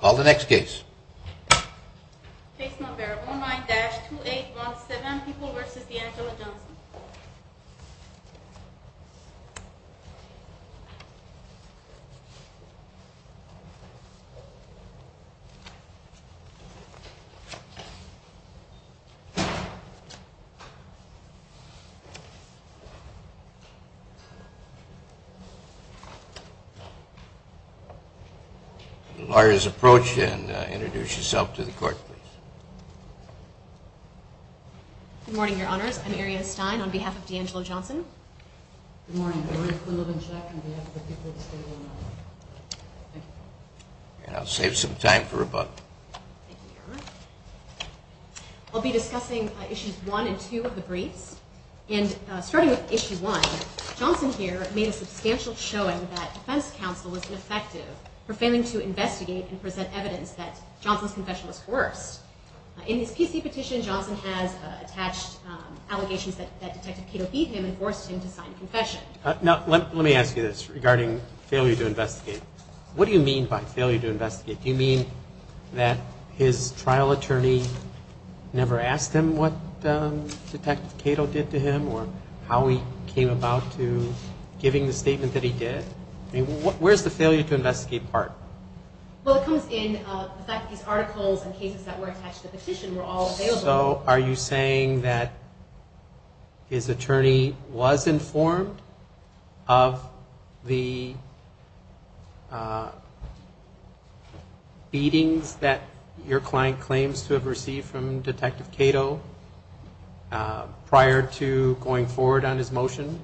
Call the next case. Case number 19-2817, People v. DeAngelo Johnson. I'll be discussing issues 1 and 2 of the briefs. Starting with issue 1, Johnson here made a substantial showing that defense counsel was ineffective for failing to investigate and present evidence that Johnson's confession was coerced. In his PC petition, Johnson has attached allegations that Detective Cato beat him and forced him to sign a confession. Now, let me ask you this regarding failure to investigate. What do you mean by failure to investigate? Do you mean that his trial attorney never asked him what Detective Cato did to him or how he came about to giving the statement that he did? I mean, where's the failure to investigate part? Well, it comes in the fact that these articles and cases that were attached to the petition were all available. So, are you saying that his attorney was informed of the beatings that your client claims to have received from Detective Cato prior to going forward on his motion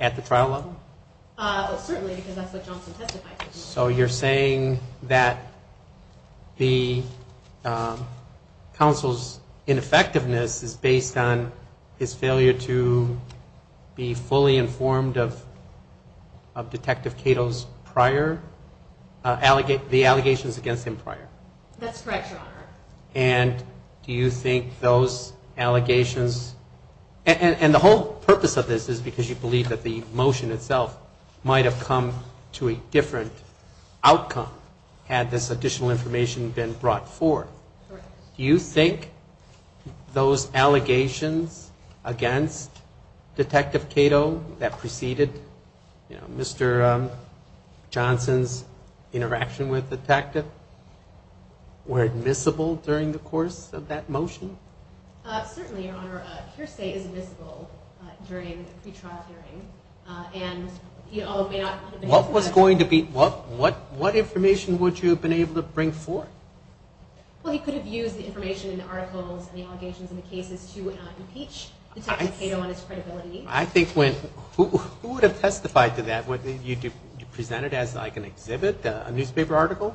at the trial level? Certainly, because that's what Johnson testified to. So, you're saying that the counsel's ineffectiveness is based on his failure to be fully informed of Detective Cato's allegations against him prior? That's correct, Your Honor. And do you think those allegations, and the whole purpose of this is because you believe that the motion itself might have come to a different outcome had this additional information been brought forth. Correct. Do you think those allegations against Detective Cato that preceded Mr. Johnson's interaction with Detective were admissible during the course of that motion? Certainly, Your Honor. Hearsay is admissible during the pre-trial hearing. What information would you have been able to bring forth? Well, he could have used the information in the articles and the allegations in the cases to impeach Detective Cato on his credibility. Who would have testified to that? Would you present it as an exhibit, a newspaper article?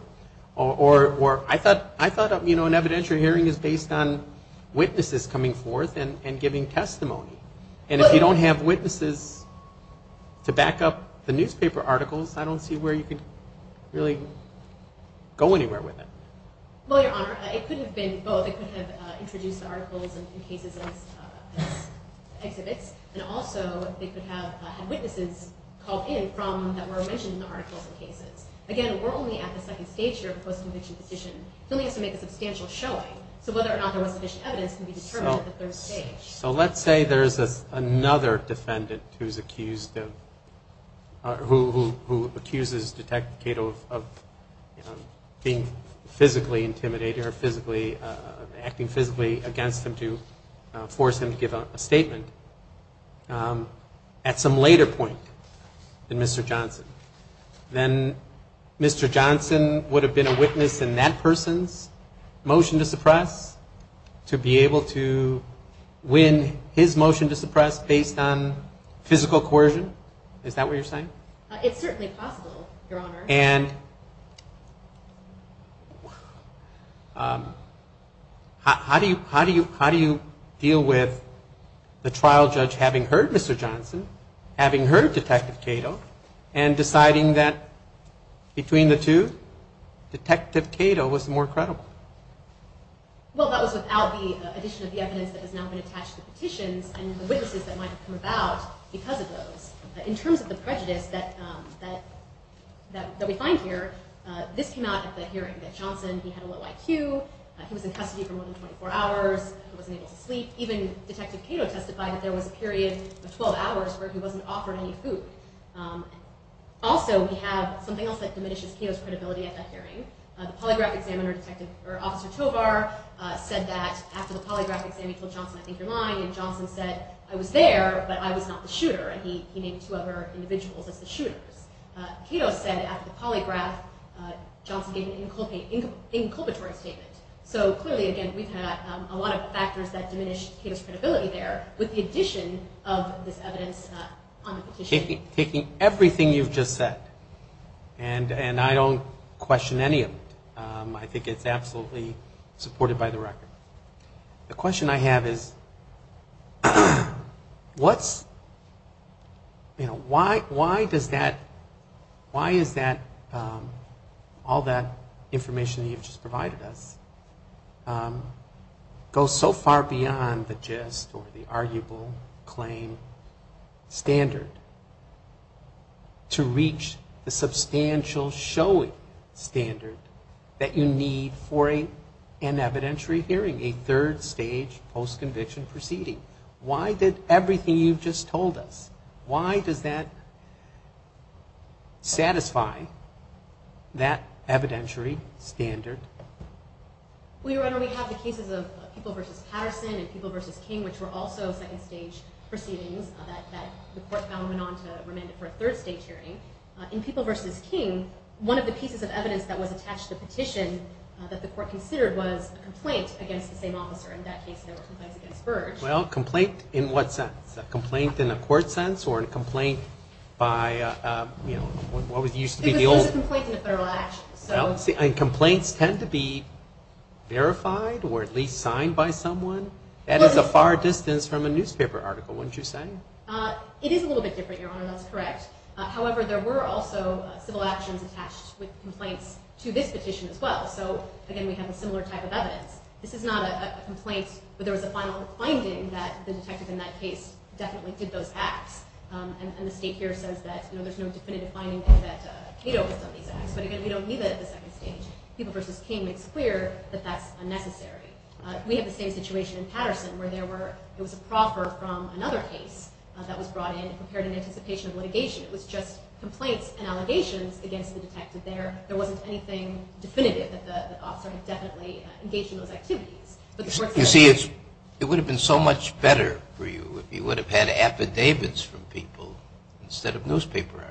I thought an evidentiary hearing is based on witnesses coming forth and giving testimony. And if you don't have witnesses to back up the newspaper articles, I don't see where you could really go anywhere with it. Well, Your Honor, it could have been both. It could have introduced the articles and cases as exhibits. And also, it could have had witnesses called in that were mentioned in the articles and cases. Again, we're only at the second stage here of the post-conviction position. He only has to make a substantial showing. So whether or not there was sufficient evidence can be determined at the third stage. So let's say there's another defendant who accuses Detective Cato of being physically intimidating or acting physically against him to force him to give a statement at some later point than Mr. Johnson. Then Mr. Johnson would have been a witness in that person's motion to suppress to be able to win his motion to suppress based on physical coercion. Is that what you're saying? It's certainly possible, Your Honor. And how do you deal with the trial judge having heard Mr. Johnson, having heard Detective Cato, and deciding that between the two, Detective Cato was more credible? Well, that was without the addition of the evidence that has now been attached to the petitions and the witnesses that might have come about because of those. In terms of the prejudice that we find here, this came out at the hearing, that Johnson, he had a low IQ. He was in custody for more than 24 hours. He wasn't able to sleep. Even Detective Cato testified that there was a period of 12 hours where he wasn't offered any food. Also, we have something else that diminishes Cato's credibility at that hearing. The polygraph examiner, Officer Tovar, said that after the polygraph exam he told Johnson, I think you're lying, and Johnson said, I was there, but I was not the shooter, and he named two other individuals as the shooters. Cato said after the polygraph, Johnson gave an inculpatory statement. So clearly, again, we've had a lot of factors that diminish Cato's credibility there with the addition of this evidence on the petition. Taking everything you've just said, and I don't question any of it, I think it's absolutely supported by the record. The question I have is, what's, you know, why does that, why is that, all that information that you've just provided us, go so far beyond the gist or the arguable claim standard to reach the substantial showing standard that you need for an evidentiary hearing? A third-stage post-conviction proceeding. Why did everything you've just told us, why does that satisfy that evidentiary standard? Well, Your Honor, we have the cases of People v. Patterson and People v. King, which were also second-stage proceedings that the court found went on to remand it for a third-stage hearing. In People v. King, one of the pieces of evidence that was attached to the petition that the court considered was a complaint against the same officer. In that case, there were complaints against Burge. Well, complaint in what sense? A complaint in a court sense, or a complaint by, you know, what used to be the old... It was a complaint in a federal action, so... And complaints tend to be verified, or at least signed by someone? That is a far distance from a newspaper article, wouldn't you say? It is a little bit different, Your Honor, that's correct. However, there were also civil actions attached with complaints to this petition as well. So, again, we have a similar type of evidence. This is not a complaint, but there was a final finding that the detective in that case definitely did those acts. And the state here says that, you know, there's no definitive finding that Cato has done these acts. But again, we don't need that at the second stage. People v. King makes clear that that's unnecessary. We have the same situation in Patterson, where there were... It was a proffer from another case that was brought in and prepared in anticipation of litigation. It was just complaints and allegations against the detective there. There wasn't anything definitive that the officer had definitely engaged in those activities. You see, it would have been so much better for you if you would have had affidavits from people instead of newspaper articles.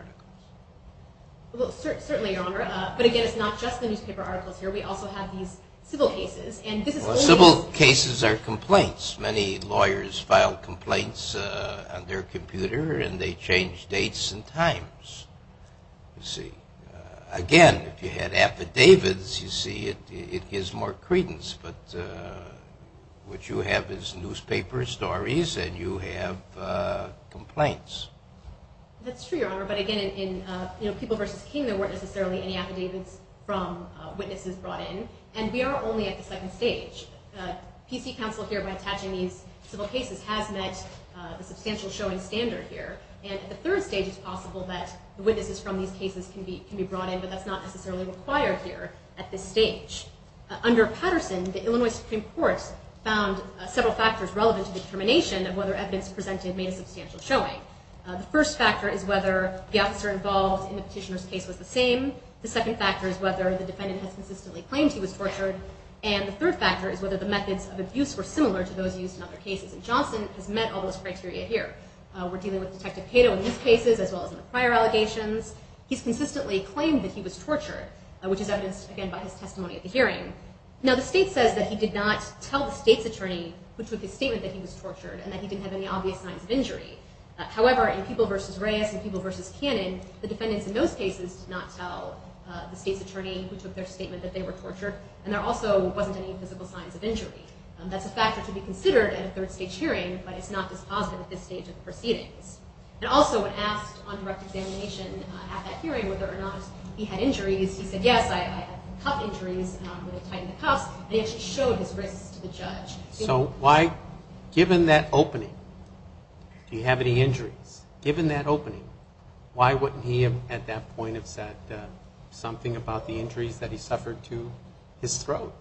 Well, certainly, Your Honor. But again, it's not just the newspaper articles here. We also have these civil cases. Well, civil cases are complaints. Many lawyers file complaints on their computer, and they change dates and times. You see. Again, if you had affidavits, you see, it gives more credence. But what you have is newspaper stories, and you have complaints. That's true, Your Honor. But again, in People v. King, there weren't necessarily any affidavits from witnesses brought in. And we are only at the second stage. PC counsel here, by attaching these civil cases, has met the substantial showing standard here. And at the third stage, it's possible that witnesses from these cases can be brought in, but that's not necessarily required here at this stage. Under Patterson, the Illinois Supreme Court found several factors relevant to the determination of whether evidence presented made a substantial showing. The first factor is whether the officer involved in the petitioner's case was the same. The second factor is whether the defendant has consistently claimed he was tortured. And the third factor is whether the methods of abuse were similar to those used in other cases. And Johnson has met all those criteria here. We're dealing with Detective Cato in these cases, as well as in the prior allegations. He's consistently claimed that he was tortured, which is evidenced, again, by his testimony at the hearing. Now, the state says that he did not tell the state's attorney who took his statement that he was tortured, and that he didn't have any obvious signs of injury. However, in People v. Reyes and People v. Cannon, the defendants in those cases did not tell the state's attorney who took their statement that they were tortured, and there also wasn't any physical signs of injury. That's a factor to be considered at a third-stage hearing, but it's not dispositive at this stage of proceedings. And also, when asked on direct examination at that hearing whether or not he had injuries, he said, yes, I had cuff injuries where they tightened the cuffs, and he actually showed his wrists to the judge. So why, given that opening, do you have any injuries? Given that opening, why wouldn't he have, at that point, have said something about the injuries that he suffered to his throat?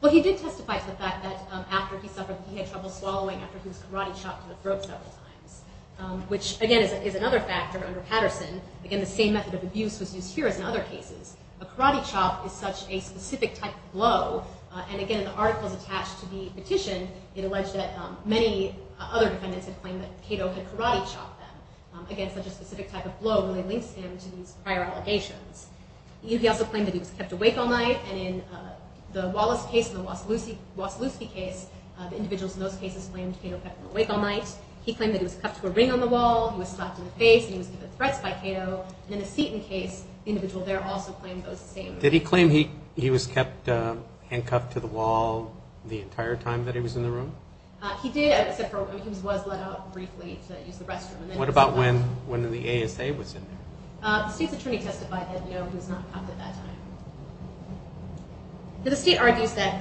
Well, he did testify to the fact that after he suffered, he had trouble swallowing after he was karate-chopped to the throat several times, which, again, is another factor under Patterson. Again, the same method of abuse was used here as in other cases. A karate chop is such a specific type of blow, and again, in the articles attached to the petition, it alleged that many other defendants had claimed that Cato had karate-chopped them. Again, such a specific type of blow really links him to these prior allegations. He also claimed that he was kept awake all night, and in the Wallace case and the Wasilewski case, the individuals in those cases claimed Cato kept them awake all night. He claimed that he was cuffed to a ring on the wall, he was slapped in the face, and he was given threats by Cato. And in the Seton case, the individual there also claimed those same things. Did he claim he was kept handcuffed to the wall the entire time that he was in the room? He did, except he was let out briefly to use the restroom. What about when the ASA was in there? The state's attorney testified that he was not cuffed at that time. The state argues that,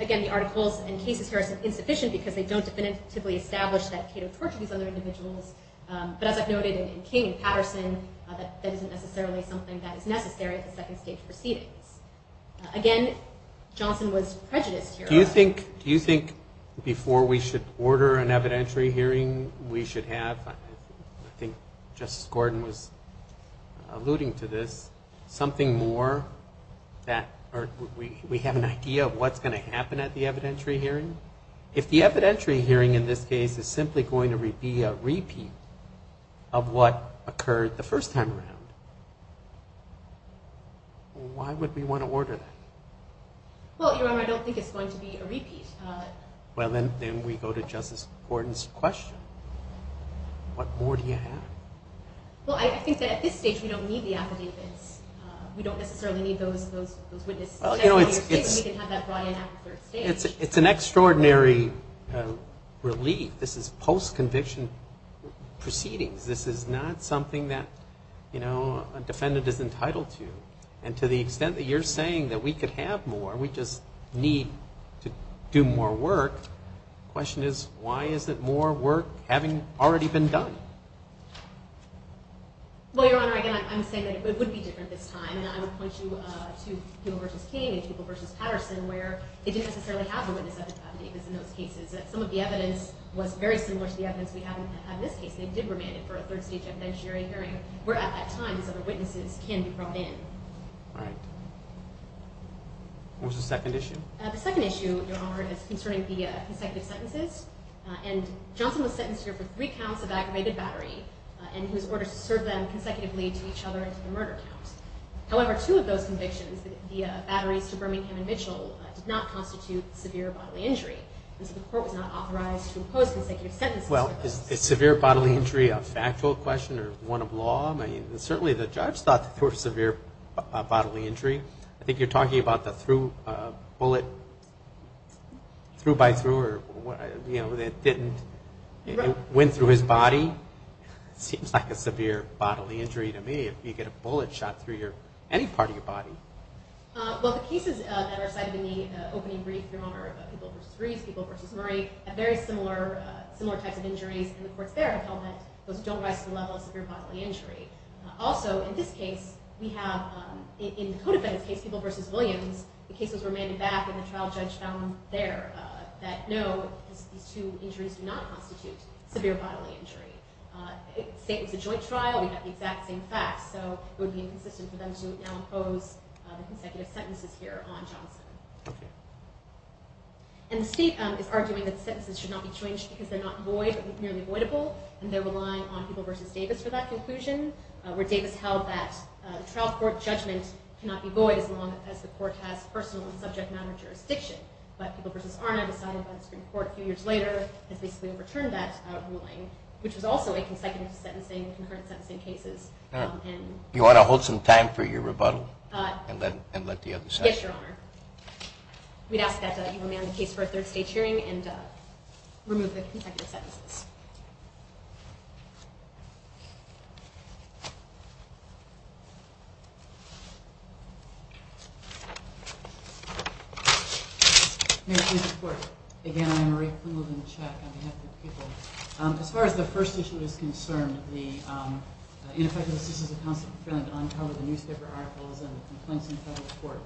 again, the articles and cases here are insufficient because they don't definitively establish that Cato tortured these other individuals, but as I've noted in King and Patterson, that isn't necessarily something that is necessary at the second stage proceedings. Again, Johnson was prejudiced here. Do you think before we should order an evidentiary hearing, we should have? I think Justice Gordon was alluding to this. Something more that we have an idea of what's going to happen at the evidentiary hearing. If the evidentiary hearing in this case is simply going to be a repeat of what occurred the first time around, why would we want to order that? Well, Your Honor, I don't think it's going to be a repeat. Well, then we go to Justice Gordon's question. What more do you have? Well, I think that at this stage we don't need the affidavits. We don't necessarily need those witnesses. We can have that brought in at the third stage. It's an extraordinary relief. This is post-conviction proceedings. This is not something that a defendant is entitled to. And to the extent that you're saying that we could have more, we just need to do more work. The question is, why is it more work having already been done? Well, Your Honor, again, I'm saying that it would be different this time. And I would point you to Peeble v. King and Peeble v. Patterson, where they didn't necessarily have the witness affidavits in those cases. Some of the evidence was very similar to the evidence we have in this case. They did remand it for a third stage evidentiary hearing. Where at that time these other witnesses can be brought in. All right. What was the second issue? The second issue, Your Honor, is concerning the consecutive sentences. And Johnson was sentenced here for three counts of aggravated battery and he was ordered to serve them consecutively to each other until the murder count. However, two of those convictions, the batteries to Birmingham and Mitchell, did not constitute severe bodily injury. And so the court was not authorized to impose consecutive sentences for those. Well, is severe bodily injury a factual question or one of law? I mean, certainly the judge thought it was severe bodily injury. I think you're talking about the bullet through-by-through, you know, that didn't, it went through his body. It seems like a severe bodily injury to me if you get a bullet shot through any part of your body. Well, the cases that are cited in the opening brief, Your Honor, about People v. Rees, People v. Murray, have very similar types of injuries. And the courts there have held that those don't rise to the level of severe bodily injury. Also, in this case, we have, in the Codefendant's case, People v. Williams, the case was remanded back and the trial judge found there that no, these two injuries do not constitute severe bodily injury. It was a joint trial. We have the exact same facts. So it would be inconsistent for them to now impose the consecutive sentences here on Johnson. Okay. And the state is arguing that the sentences should not be changed because they're not void, but merely voidable, and they're relying on People v. Davis for that conclusion, where Davis held that the trial court judgment cannot be void as long as the court has personal and subject matter jurisdiction. But People v. Arnab decided by the Supreme Court a few years later and basically overturned that ruling, which was also a consecutive sentencing, concurrent sentencing cases. You ought to hold some time for your rebuttal and let the others answer. Yes, Your Honor. We'd ask that you remand the case for a third state hearing and remove the consecutive sentences. Mary, please report. Again, I'm Marie Quinlivan, Czech, on behalf of People. As far as the first issue is concerned, the ineffectiveness is a constant threat on cover. The newspaper articles and the complaints in federal court.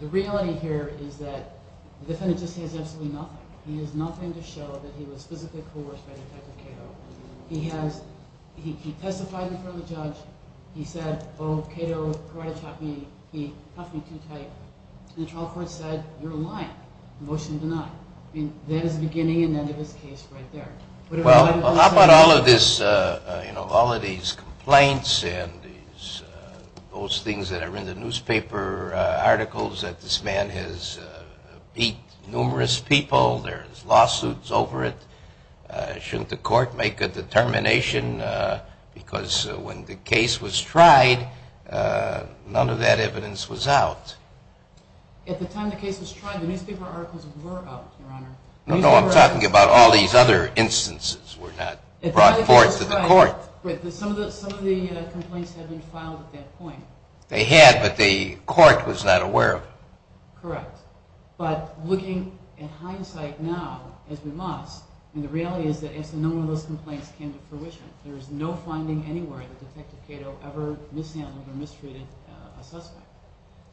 The reality here is that the defendant just has absolutely nothing. He has nothing to show that he was physically coerced by Detective Cato. He testified in front of the judge. He said, oh, Cato karate-chopped me. He cuffed me too tight. And the trial court said, you're lying. Motion denied. I mean, that is the beginning and end of his case right there. Well, how about all of these complaints and those things that are in the newspaper articles that this man has beat numerous people? There's lawsuits over it. Shouldn't the court make a determination? Because when the case was tried, none of that evidence was out. At the time the case was tried, the newspaper articles were out, Your Honor. No, I'm talking about all these other instances were not brought forth to the court. Some of the complaints had been filed at that point. They had, but the court was not aware of them. Correct. But looking at hindsight now, as we must, the reality is that no one of those complaints came to fruition. There is no finding anywhere that Detective Cato ever mishandled or mistreated a suspect.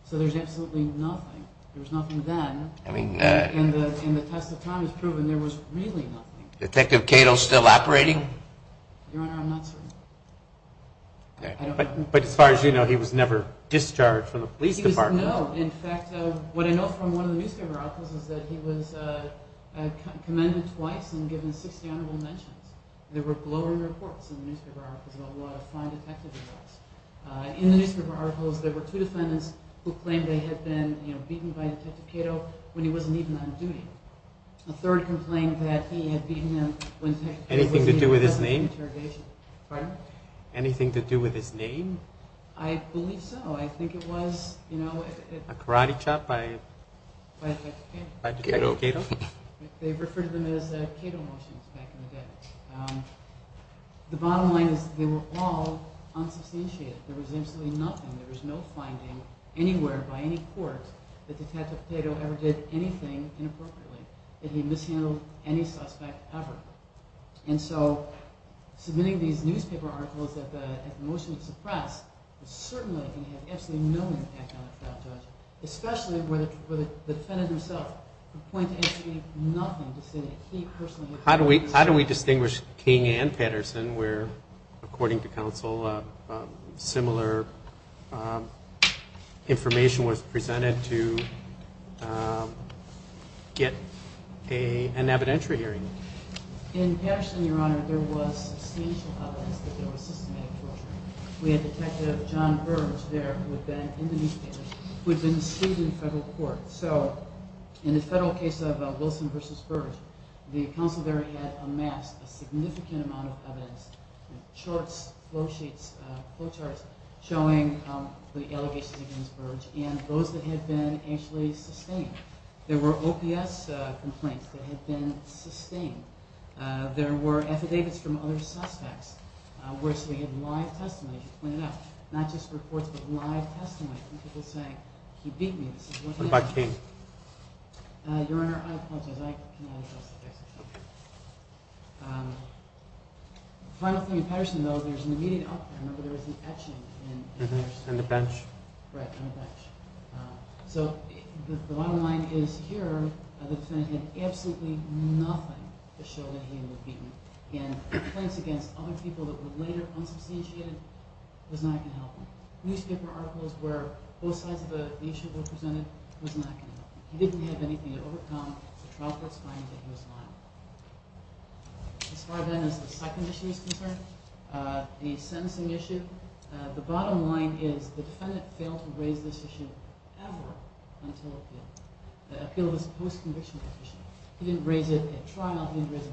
So there's absolutely nothing. There was nothing then. And the test of time has proven there was really nothing. Detective Cato still operating? Your Honor, I'm not certain. But as far as you know, he was never discharged from the police department. No, in fact, what I know from one of the newspaper articles is that he was commended twice and given 60 honorable mentions. There were glowing reports in the newspaper articles about what a fine detective he was. In the newspaper articles, there were two defendants who claimed they had been beaten by Detective Cato when he wasn't even on duty. A third complained that he had beaten them when Detective Cato was in the office of interrogation. Pardon? Anything to do with his name? I believe so. I think it was, you know, A karate chop by Detective Cato? They referred to them as Cato motions back in the day. The bottom line is they were all unsubstantiated. There was absolutely nothing. There was no finding anywhere by any court that Detective Cato ever did anything inappropriately, that he mishandled any suspect ever. And so submitting these newspaper articles that the motion would suppress was certainly going to have absolutely no impact on a trial judge, especially where the defendant himself would point to actually nothing to say that he personally had done anything. How do we distinguish King and Patterson where, according to counsel, similar information was presented to get an evidentiary hearing? In Patterson, Your Honor, there was substantial evidence that there was systematic torture. We had Detective John Burge there who had been in the newspaper, who had been seated in federal court. So in the federal case of Wilson v. Burge, there were charts, flow sheets, flow charts showing the allegations against Burge and those that had been actually sustained. There were OPS complaints that had been sustained. There were affidavits from other suspects. We actually had live testimony, as you pointed out, not just reports but live testimony from people saying, he beat me, this is what happened. What about King? Your Honor, I apologize. The final thing in Patterson, though, there's an immediate outcome. Remember, there was an etching in Patterson. On the bench? Right, on the bench. So the bottom line is here, the defendant had absolutely nothing to show that he would have beaten him. And complaints against other people that were later unsubstantiated was not going to help him. Newspaper articles where both sides of the issue were presented was not going to help him. He didn't have anything to overcome. The trial court's finding that he was liable. As far then as the second issue is concerned, the sentencing issue, the bottom line is the defendant failed to raise this issue ever until appeal. The appeal was post-conviction petition. He didn't raise it at trial. He didn't raise it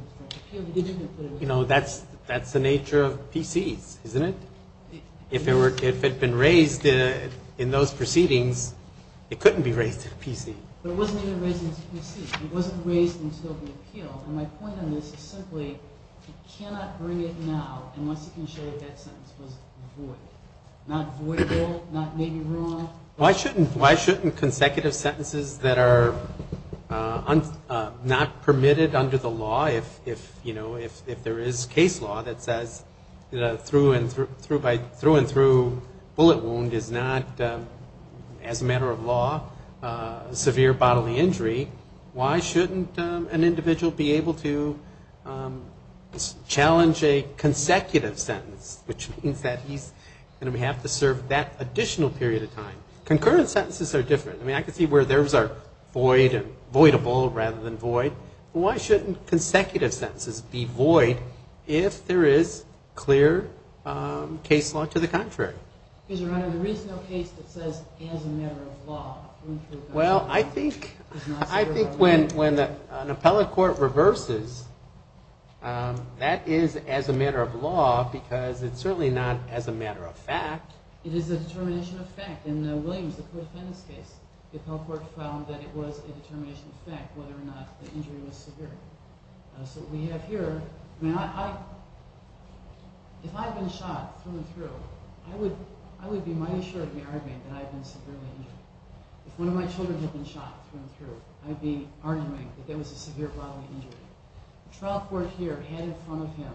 in court. You know, that's the nature of PCs, isn't it? If it had been raised in those proceedings, it couldn't be raised at a PC. But it wasn't even raised at a PC. It wasn't raised until the appeal. And my point on this is simply you cannot bring it now unless you can show that that sentence was void. Not voidable, not maybe wrong. Why shouldn't consecutive sentences that are not permitted under the law, if, you know, if there is case law that says through and through bullet wound is not, as a matter of law, severe bodily injury, why shouldn't an individual be able to challenge a consecutive sentence, which means that he's going to have to serve that additional period of time. Concurrent sentences are different. I mean, I can see where theirs are void and voidable rather than void. Why shouldn't consecutive sentences be void if there is clear case law to the contrary? Your Honor, there is no case that says as a matter of law. Well, I think when an appellate court reverses, that is as a matter of law because it's certainly not as a matter of fact. It is a determination of fact. In the Williams, the co-defendant's case, the appellate court found that it was a determination of fact whether or not the injury was severe. So what we have here, I mean, if I had been shot through and through, I would be mighty sure of the argument that I had been severely injured. If one of my children had been shot through and through, I'd be arguing that there was a severe bodily injury. The trial court here had in front of him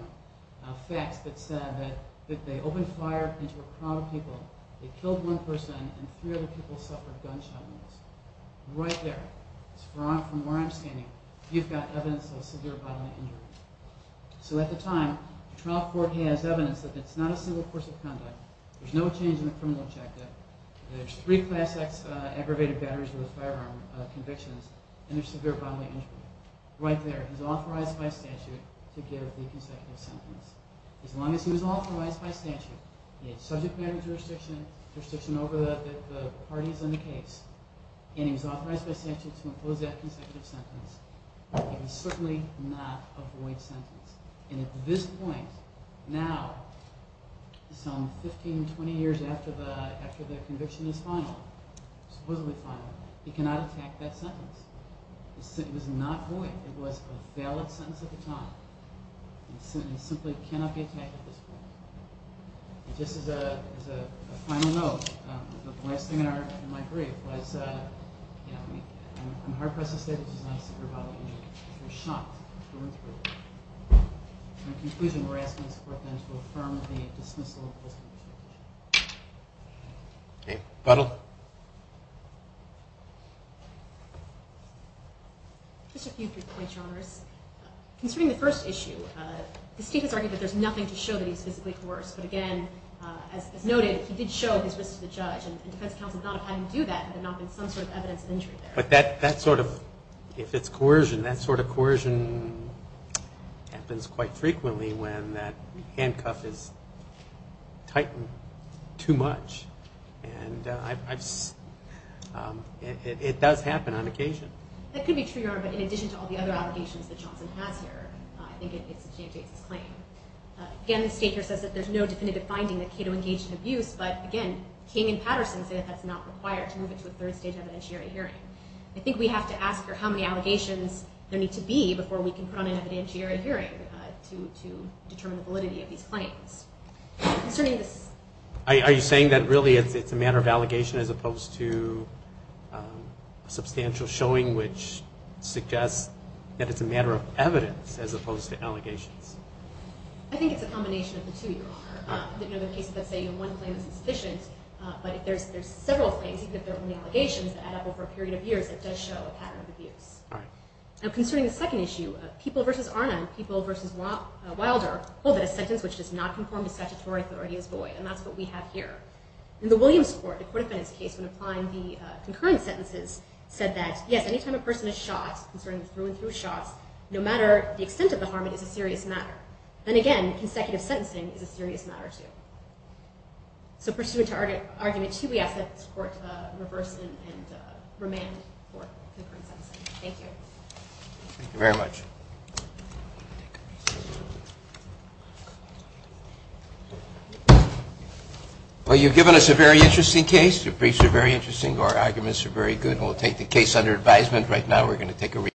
facts that said that they opened fire into a crowd of people, they killed one person, and three other people suffered gunshot wounds. Right there, from where I'm standing, you've got evidence of a severe bodily injury. So at the time, the trial court has evidence that it's not a single course of conduct, there's no change in the criminal objective, there's three Class X aggravated batteries with a firearm convictions, and there's severe bodily injury. Right there, he's authorized by statute to give the consecutive sentence. As long as he was authorized by statute, he had subject matter jurisdiction over the parties in the case, and he was authorized by statute to impose that consecutive sentence, he could certainly not avoid sentence. And at this point, now, some 15, 20 years after the conviction is final, supposedly final, he cannot attack that sentence. It was a valid sentence at the time. He simply cannot be attacked at this point. And just as a final note, the last thing in my brief was, you know, I'm hard-pressed to say that he's not a severe bodily injury. He was shot. In conclusion, we're asking this court then to affirm the dismissal of this conviction. Just a few quick points, Your Honors. Concerning the first issue, the state has argued that there's nothing to show that he's physically coerced. But again, as noted, he did show his wrist to the judge, and defense counsel thought of how to do that, but there had not been some sort of evidence of injury there. But that sort of, if it's coercion, that sort of coercion happens quite frequently when that handcuff is tightened too much. And it does happen on occasion. That could be true, Your Honor, but in addition to all the other allegations that Johnson has here, I think it disengages his claim. Again, the state here says that there's no definitive finding that Cato engaged in abuse, but again, King and Patterson say that that's not required to move it to a third-stage evidentiary hearing. I think we have to ask for how many allegations there need to be before we can put on an evidentiary hearing to determine the validity of these claims. Are you saying that really it's a matter of allegation as opposed to a substantial showing which suggests that it's a matter of evidence as opposed to allegations? I think it's a combination of the two, Your Honor. In other cases, let's say one claim is insufficient, but if there's several claims, even if they're only allegations, that add up over a period of years, it does show a pattern of abuse. All right. Now, concerning the second issue, People v. Arnum, People v. Wilder, hold that a sentence which does not conform to statutory authority is void, and that's what we have here. In the Williams Court, the Court of Fines case when applying the concurrent sentences, said that, yes, any time a person is shot, concerning through and through shots, no matter the extent of the harm, it is a serious matter. Then again, consecutive sentencing is a serious matter, too. So pursuant to Argument 2, we ask that this Court reverse and remand for concurrent sentencing. Thank you. Thank you very much. Well, you've given us a very interesting case. Your briefs are very interesting. Your arguments are very good. And we'll take the case under advisement. Right now, we're going to take a recess.